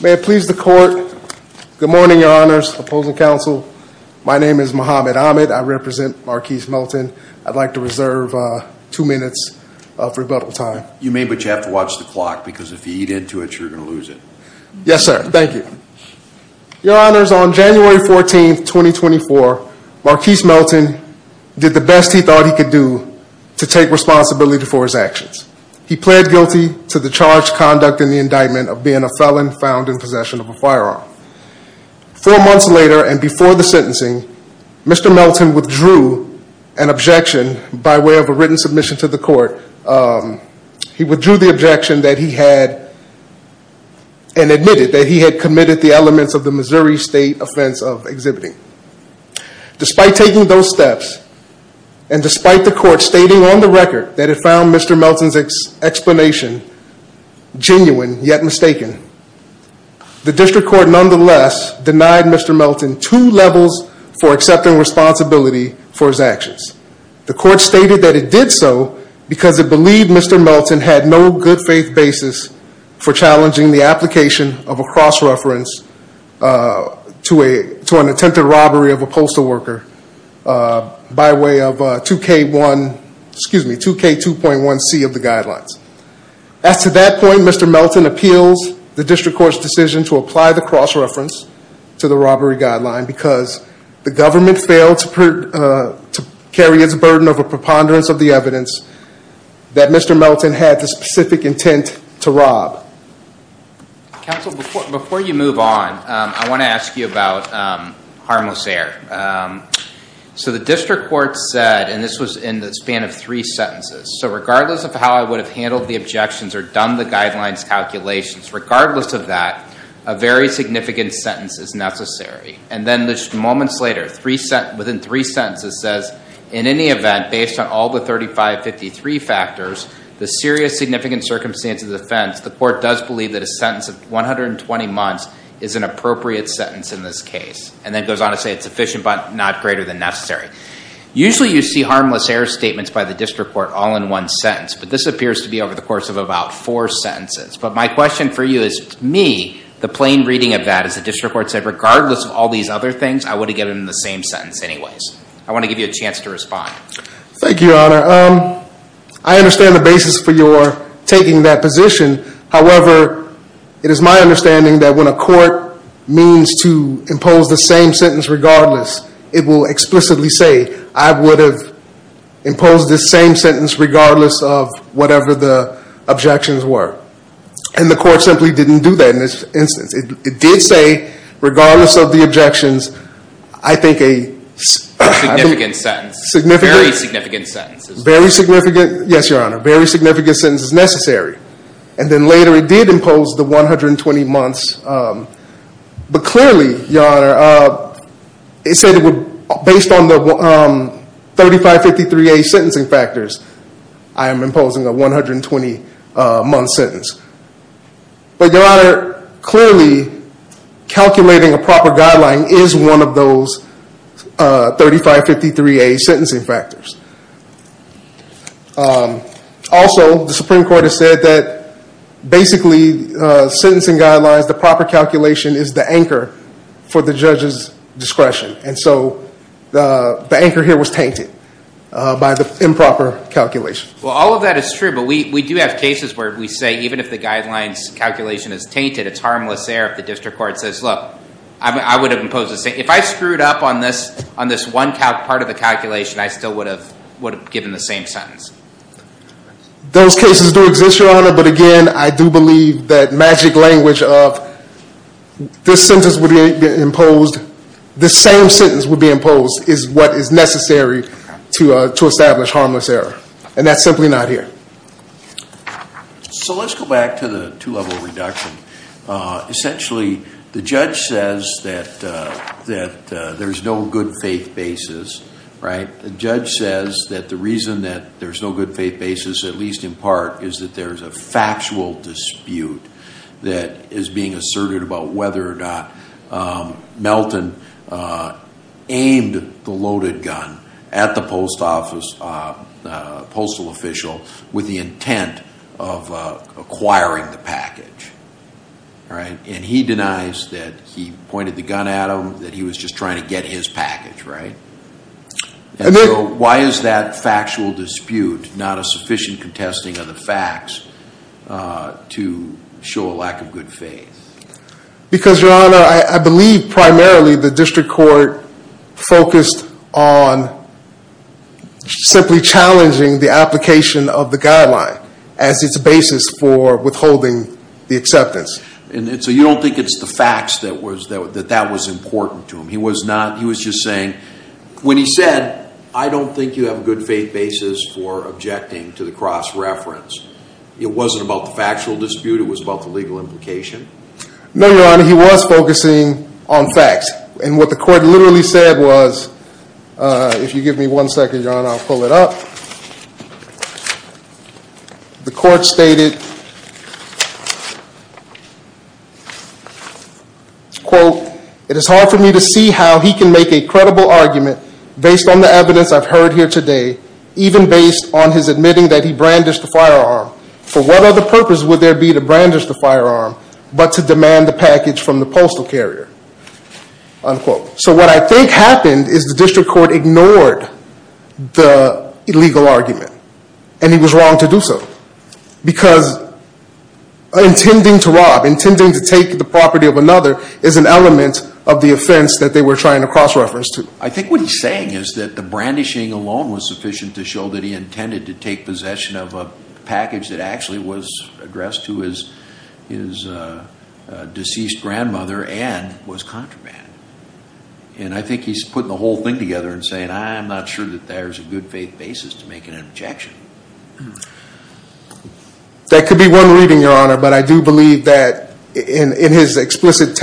May it please the court. Good morning, your honors, opposing counsel. My name is Muhammad Ahmed. I represent Marquis Melton. I'd like to reserve two minutes of rebuttal time. You may, but you have to watch the clock because if you eat into it, you're gonna lose it. Yes, sir. Thank you. Your honors, on January 14th, 2024, Marquis Melton did the best he could do to take responsibility for his actions. He pled guilty to the charged conduct in the indictment of being a felon found in possession of a firearm. Four months later and before the sentencing, Mr. Melton withdrew an objection by way of a written submission to the court. He withdrew the objection that he had and admitted that he had committed the elements of the Missouri State Offense of Exhibiting. Despite taking those steps and despite the court stating on the record that it found Mr. Melton's explanation genuine yet mistaken, the district court nonetheless denied Mr. Melton two levels for accepting responsibility for his actions. The court stated that it did so because it believed Mr. Melton had no good faith basis for challenging the application of a cross-reference to an attempted robbery of a postal worker by way of 2K2.1C of the guidelines. As to that point, Mr. Melton appeals the district court's decision to apply the cross-reference to the robbery guideline because the government failed to carry its burden of a preponderance of the evidence that Mr. Melton had the specific intent to rob. Counsel, before you move on, I want to ask you about harmless error. So the district court said, and this was in the span of three sentences, so regardless of how I would have handled the objections or done the guidelines calculations, regardless of that, a very significant sentence is necessary. And then just moments later, within three sentences says, in any event, based on all the 3553 factors, the serious significant circumstances of offense, the court does believe that a sentence of 120 months is an appropriate sentence in this case. And then goes on to say it's sufficient but not greater than necessary. Usually you see harmless error statements by the district court all in one sentence, but this appears to be over the course of about four sentences. But my question for you is, to me, the plain reading of that is the district court said, regardless of all these other things, I want to get it in the same sentence anyways. I want to give you a chance to respond. Thank you, Your Honor. I understand the basis for your taking that position. However, it is my understanding that when a court means to impose the same sentence regardless, it will explicitly say, I would have imposed this same sentence regardless of whatever the objections were. And the court simply didn't do that in this instance. It did say, regardless of the objections, I think a significant sentence, very significant sentence is necessary. And then later it did impose the 120 months. But clearly, Your Honor, based on the 3553A sentencing factors, I am imposing a 120 month sentence. But Your Honor, clearly calculating a proper guideline is one of those 3553A sentencing factors. Also, the Supreme Court has said that basically sentencing guidelines, the proper calculation is the anchor for the judge's discretion. And so the anchor here was tainted by the improper calculation. All of that is true, but we do have cases where we say even if the guidelines calculation is tainted, it's harmless error if the district court says, look, I would have imposed this sentence. If I screwed up on this one part of the calculation, I still would have given the same sentence. Those cases do exist, Your Honor. But again, I do believe that magic language of this sentence would be imposed, the same sentence would be imposed, is what is necessary to establish harmless error. And that's simply not here. So let's go back to the two-level reduction. Essentially, the judge says that there's no good faith basis, right? The judge says that the reason that there's no good faith basis, at least in part, is that there's a factual dispute that is being asserted about whether or not Melton aimed the loaded gun at the post office, the postal official, and that with the intent of acquiring the package, right? And he denies that he pointed the gun at him, that he was just trying to get his package, right? And so why is that factual dispute not a sufficient contesting of the facts to show a lack of good faith? Because Your Honor, I believe primarily the district court focused on simply challenging the application of the guideline as its basis for withholding the acceptance. And so you don't think it's the facts that was important to him? He was not, he was just saying, when he said, I don't think you have a good faith basis for objecting to the cross reference, it wasn't about the factual dispute, it was about the legal implication? No, Your Honor, he was focusing on facts. And what the court literally said was, if you give me one second, Your Honor, I'll pull it up. The court stated, quote, it is hard for me to see how he can make a credible argument based on the evidence I've heard here today, even based on his admitting that he brandished the firearm. For what other purpose would there be to brandish the firearm, but to demand the package from the postal carrier? Unquote. So what I think happened is the district court ignored the illegal argument. And he was wrong to do so. Because intending to rob, intending to take the property of another is an element of the offense that they were trying to cross reference to. I think what he's saying is that the brandishing alone was sufficient to show that he intended to take possession of a package that actually was addressed to his deceased grandmother and was contraband. And I think he's putting the whole thing together and saying, I'm not sure that there's a good faith basis to make an objection. That could be one reading, Your Honor, but I do believe that in his explicit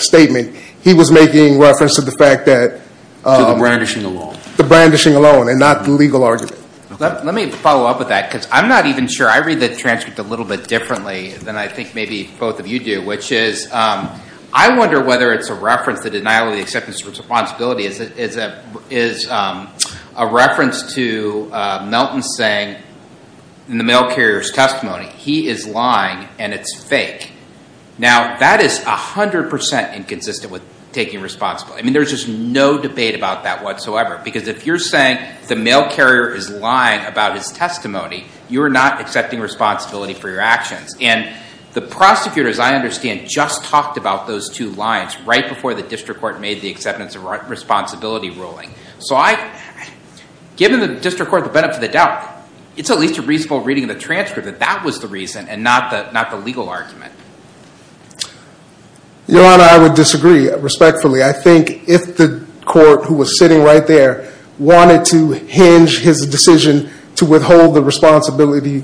statement, he was making reference to the fact that... To the brandishing alone. The brandishing alone, and not the legal argument. Let me follow up with that, because I'm not even sure. I read the transcript a little bit differently than I think maybe both of you do, which is I wonder whether it's a reference to the denial of the acceptance of responsibility is a reference to Melton saying in the mail carrier's testimony, he is lying and it's fake. Now that is 100% inconsistent with taking responsibility. I mean, there's just no debate about that whatsoever. Because if you're saying the mail carrier is lying about his testimony, you're not accepting responsibility for your actions. And the prosecutor, as I understand, just talked about those two lines right before the district court made the acceptance of responsibility ruling. So given the district court, the benefit of the doubt, it's at least a reasonable reading of the transcript that that was the reason and not the legal argument. Your Honor, I would disagree respectfully. I think if the court who was sitting right there wanted to hinge his decision to withhold the responsibility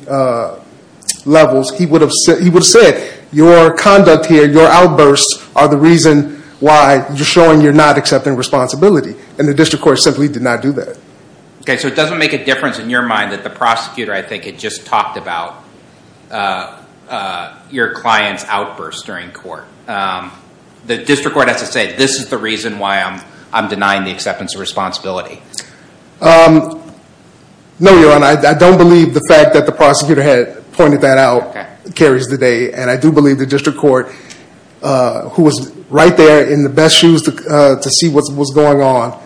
levels, he would have said your conduct here, your outbursts, are the reason why you're showing you're not accepting responsibility. And the district court simply did not do that. Okay, so it doesn't make a difference in your mind that the prosecutor, I think, had just talked about your client's outbursts during court. The district court has to say, this is the reason why I'm denying the acceptance of responsibility. No, your Honor. I don't believe the fact that the prosecutor had pointed that out carries the day. And I do believe the district court, who was right there in the best shoes to see what was going on,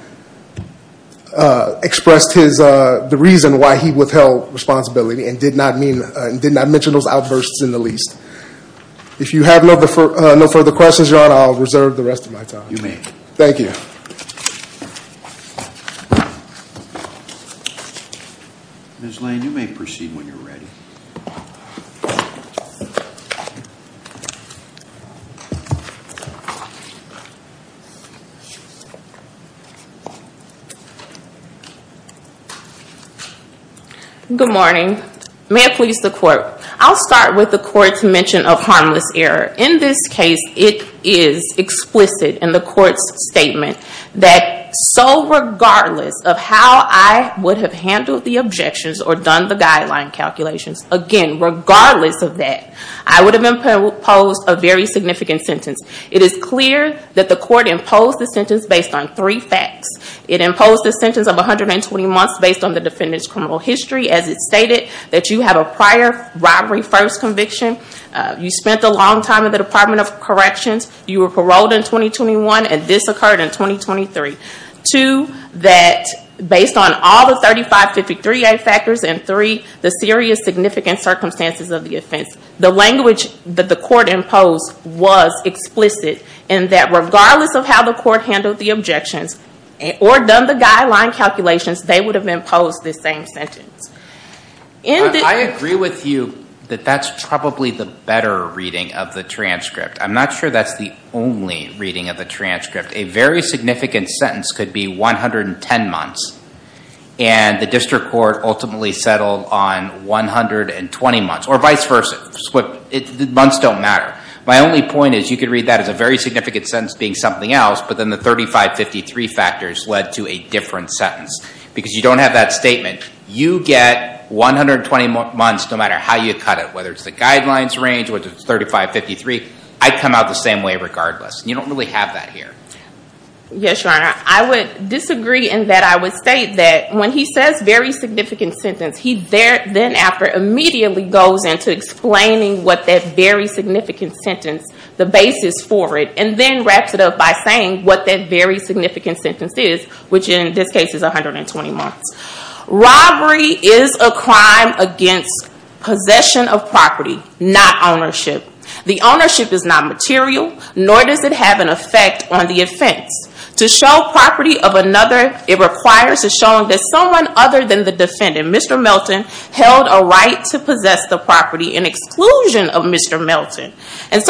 expressed the reason why he withheld responsibility and did not mention those outbursts in the least. If you have no further questions, your Honor, I'll reserve the rest of my time. You may. Thank you. Ms. Lane, you may proceed when you're ready. Good morning. May it please the court. I'll start with the court's mention of harmless error. In this case, it is explicit in the court's statement that so regardless of how I would have handled the objections or done the guideline calculations, again, regardless of that, I would have imposed a very significant sentence. It is clear that the court imposed the sentence based on three facts. It imposed the sentence of 120 months based on the defendant's criminal history as it stated that you have a prior robbery first conviction, you spent a long time in the Department of Corrections, you were paroled in 2021, and this occurred in 2023. Two, that based on all the 3553A factors, and three, the serious significant circumstances of the offense. The language that the court imposed was explicit in that regardless of how the court handled the objections or done the guideline calculations, they would have imposed the same sentence. I agree with you that that's probably the better reading of the transcript. I'm not sure that's the only reading of the transcript. A very significant sentence could be 110 months and the district court ultimately settled on 120 months, or vice versa. Months don't matter. My only point is you could read that as a very significant sentence being something else, but then the 3553 factors led to a different sentence because you don't have that statement. You get 120 months no matter how you cut it, whether it's the guidelines range or the 3553, I come out the same way regardless. You don't really have that here. Yes, Your Honor. I would disagree in that I would state that when he says very significant sentence, he then immediately goes into explaining what that very significant sentence, the basis for it, and then wraps it up by saying what that very significant sentence is, which in this case is 120 months. Robbery is a crime against possession of property, not ownership. The ownership is not material, nor does it have an effect on the offense. To show property of another, it requires a showing that someone other than the defendant, Mr. Melton, held a right to possess the property in exclusion of Mr. Melton.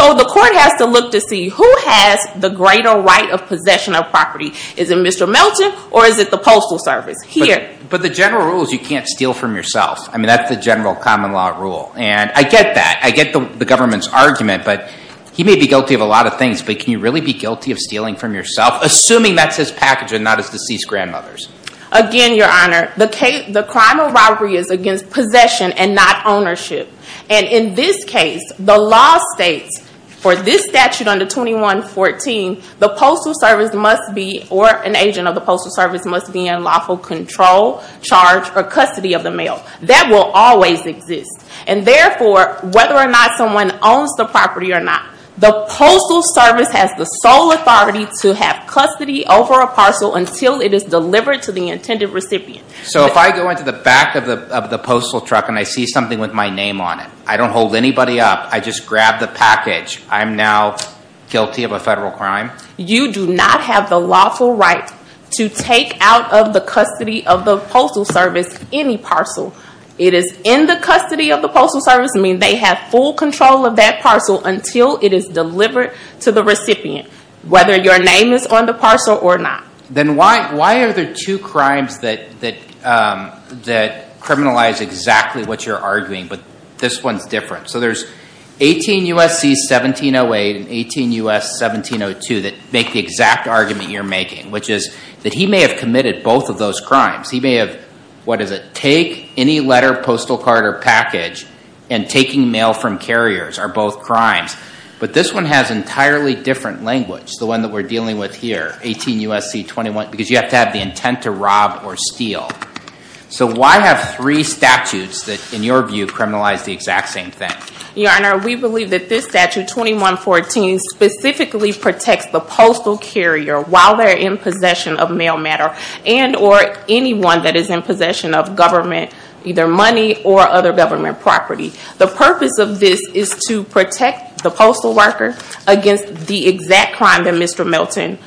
The court has to look to see who has the greater right of possession of property. Is it Mr. Melton, or is it the Postal Service here? The general rule is you can't steal from yourself. That's the general common law rule. I get that. I get the government's argument, but he may be guilty of a lot of things, but can you really be guilty of stealing from yourself, assuming that's his package and not his deceased grandmother's? Again, Your Honor, the crime of robbery is against possession and not ownership. In this case, the law states for this statute under 2114, the Postal Service must be, or an agent of the Postal Service must be in lawful control, charge, or custody of the mail. That will always exist. Therefore, whether or not someone owns the property or not, the Postal Service has the sole authority to have custody over a parcel until it is delivered to the intended recipient. So if I go into the back of the postal truck and I see something with my name on it, I don't hold anybody up. I just grab the package. I'm now guilty of a federal crime? You do not have the lawful right to take out of the custody of the Postal Service any parcel. It is in the custody of the Postal Service, meaning they have full control of that parcel until it is delivered to the recipient, whether your name is on the parcel or not. Then why are there two crimes that criminalize exactly what you're arguing, but this one is different? So there's 18 U.S.C. 1708 and 18 U.S. 1702 that make the exact argument you're making, which is that he may have committed both of those crimes. He may have, what is one has entirely different language, the one that we're dealing with here, 18 U.S.C. 21, because you have to have the intent to rob or steal. So why have three statutes that, in your view, criminalize the exact same thing? Your Honor, we believe that this statute, 2114, specifically protects the postal carrier while they're in possession of mail matter and or anyone that is in possession of government, either money or other government property. The purpose of this is to protect the postal worker against the exact crime that Mr. Milton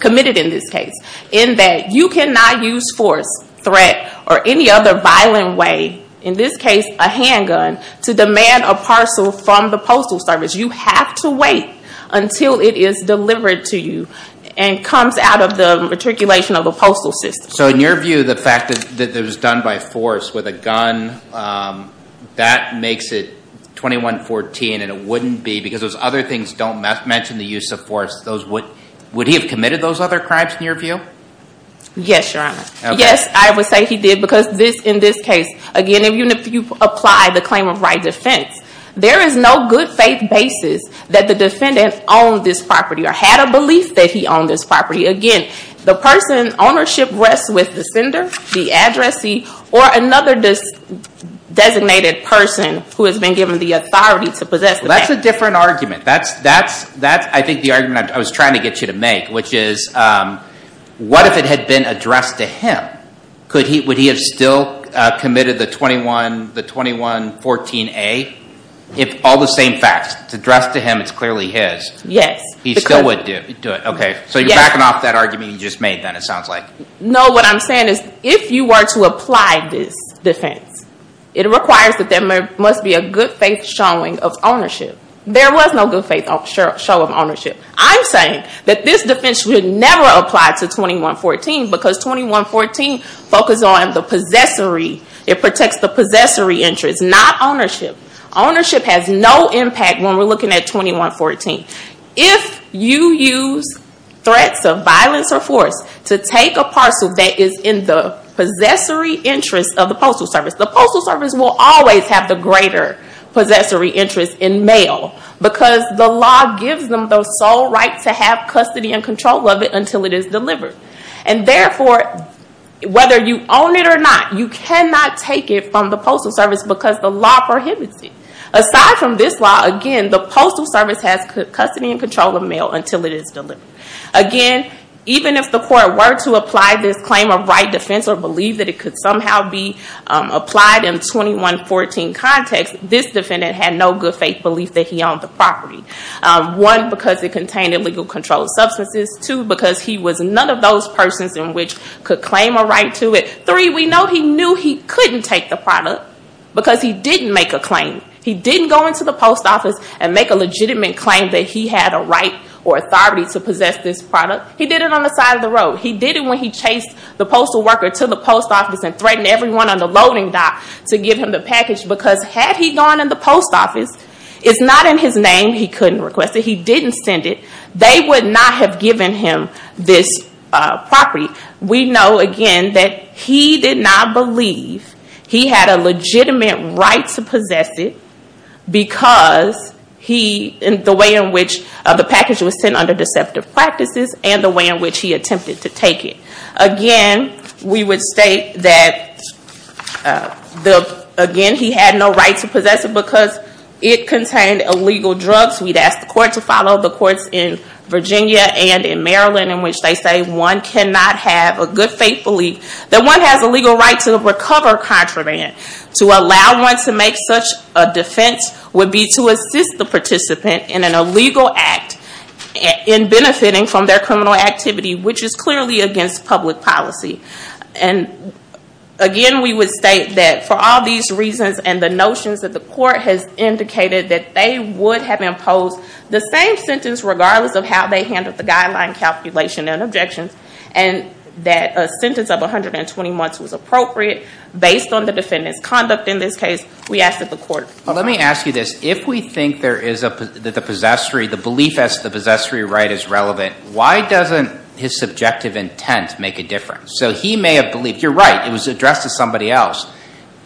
committed in this case, in that you cannot use force, threat, or any other violent way, in this case a handgun, to demand a parcel from the Postal Service. You have to wait until it is delivered to you and comes out of the matriculation of the postal system. So in your view, the fact that it was done by force with a gun, that makes it 2114 and it wouldn't be because those other things don't mention the use of force. Would he have committed those other crimes in your view? Yes, Your Honor. Yes, I would say he did because in this case, again, even if you apply the claim of right defense, there is no good faith basis that the defendant owned this property or had a belief that he owned this property. Again, the person's ownership rests with the sender, the addressee, or another designated person who has been given the authority to possess the property. That's a different argument. That's, I think, the argument I was trying to get you to make, which is, what if it had been addressed to him? Would he have still committed the 2114A? All the same facts. It's addressed to him. It's clearly his. Yes. He still would do it. Okay. So you're backing off that argument you just made then, it sounds like. No, what I'm saying is, if you were to apply this defense, it requires that there must be a good faith showing of ownership. There was no good faith show of ownership. I'm saying that this defense should never apply to 2114 because 2114 focused on the possessory. It protects the possessory interest, not ownership. Ownership has no impact when we're looking at 2114. If you use threats of violence or force to take a parcel that is in the possessory interest of the postal service, the postal service will always have the greater possessory interest in mail because the law gives them the sole right to have custody and control of it until it is delivered. Therefore, whether you own it or not, you cannot take it from the postal service because the law prohibits it. Aside from this law, again, the postal service has custody and control of mail until it is delivered. Again, even if the court were to apply this claim of right defense or believe that it could somehow be applied in 2114 context, this defendant had no good faith belief that he owned the property. One, because it contained illegal controlled substances. Two, because he was none of those persons in which could claim a right to it. Three, we know he knew he couldn't take the product because he didn't make a claim. He didn't go into the post office and make a legitimate claim that he had a right or authority to possess this product. He did it on the side of the road. He did it when he chased the postal worker to the post office and threatened everyone on the loading dock to give him the package because had he gone in the post office, it's not in his name he couldn't request it. He didn't send it. They would not have given him this property. We know, again, that he did not believe he had a legitimate right to possess it because the way in which the package was sent under deceptive practices and the way in which he attempted to take it. Again, we would state that he had no right to possess it because it contained illegal drugs. We'd ask the court to follow the courts in Virginia and in Maryland in which they say one cannot have a good faith belief that one has a legal right to recover contraband. To allow one to make such a defense would be to assist the participant in an illegal act in benefiting from their criminal activity which is clearly against public policy. Again, we would state that for all these reasons and the notions that the court has indicated that they would have imposed the same sentence regardless of how they handled the guideline calculation and objections and that a sentence of 120 months was appropriate based on the defendant's conduct in this case, we ask that the court follow. Let me ask you this. If we think that the belief as to the possessory right is relevant, why doesn't his subjective intent make a difference? You're right, it was addressed to somebody else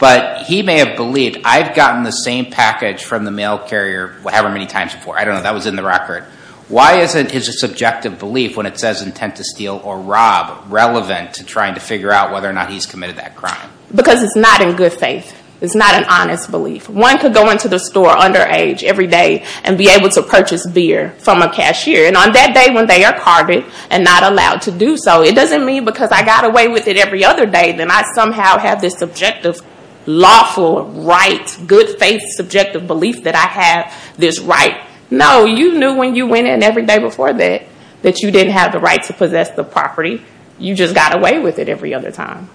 but he may have believed, I've gotten the same package from the mail carrier however many times before. I don't know, that was in the record. Why isn't his subjective belief when it says intent to steal or rob relevant to trying to figure out whether or not he's committed that crime? Because it's not in good faith. It's not an honest belief. One could go into the store underage every day and be able to purchase beer from a cashier and on that day when they are carded and not allowed to do so, it doesn't mean because I got away with it every other day then I somehow have this subjective, lawful, right, good faith, subjective belief that I have this right. No, you knew when you went in every day before that, that you didn't have the right to possess the property. You just got away with it every other time.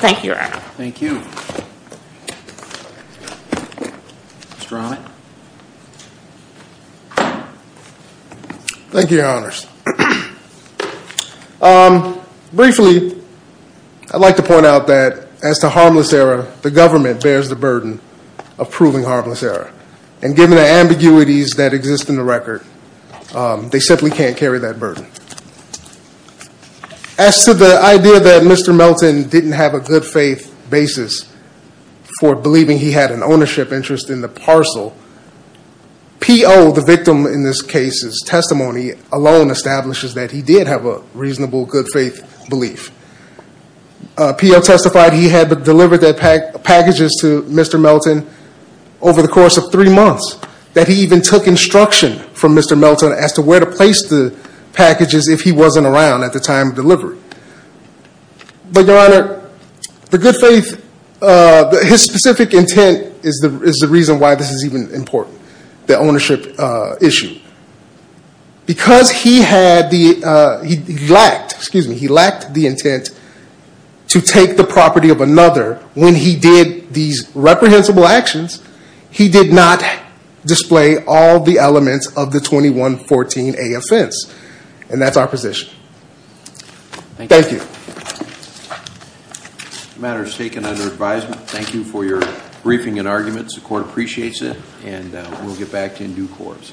Thank you, Your Honor. Thank you. Mr. Ronnick. Thank you, Your Honors. Briefly, I'd like to point out that as to harmless error, it the government bears the burden of proving harmless error. And given the ambiguities that exist in the record, they simply can't carry that burden. As to the idea that Mr. Melton didn't have a good faith basis for believing he had an ownership interest in the parcel, P.O., the victim in this case's testimony, alone establishes that he did have a reasonable good faith belief. P.O. testified he had delivered that pack of packages to Mr. Melton over the course of three months, that he even took instruction from Mr. Melton as to where to place the packages if he wasn't around at the time of delivery. But, Your Honor, the good faith, his specific intent is the reason why this is even important, the ownership issue. Because he had the, he lacked, excuse me, he lacked the intent to take the property of another when he did these reprehensible actions, he did not display all the elements of the 2114A offense. And that's our position. Thank you. The matter is taken under advisement. Thank you for your briefing and arguments. The Court appreciates it and we'll get back to you in due course.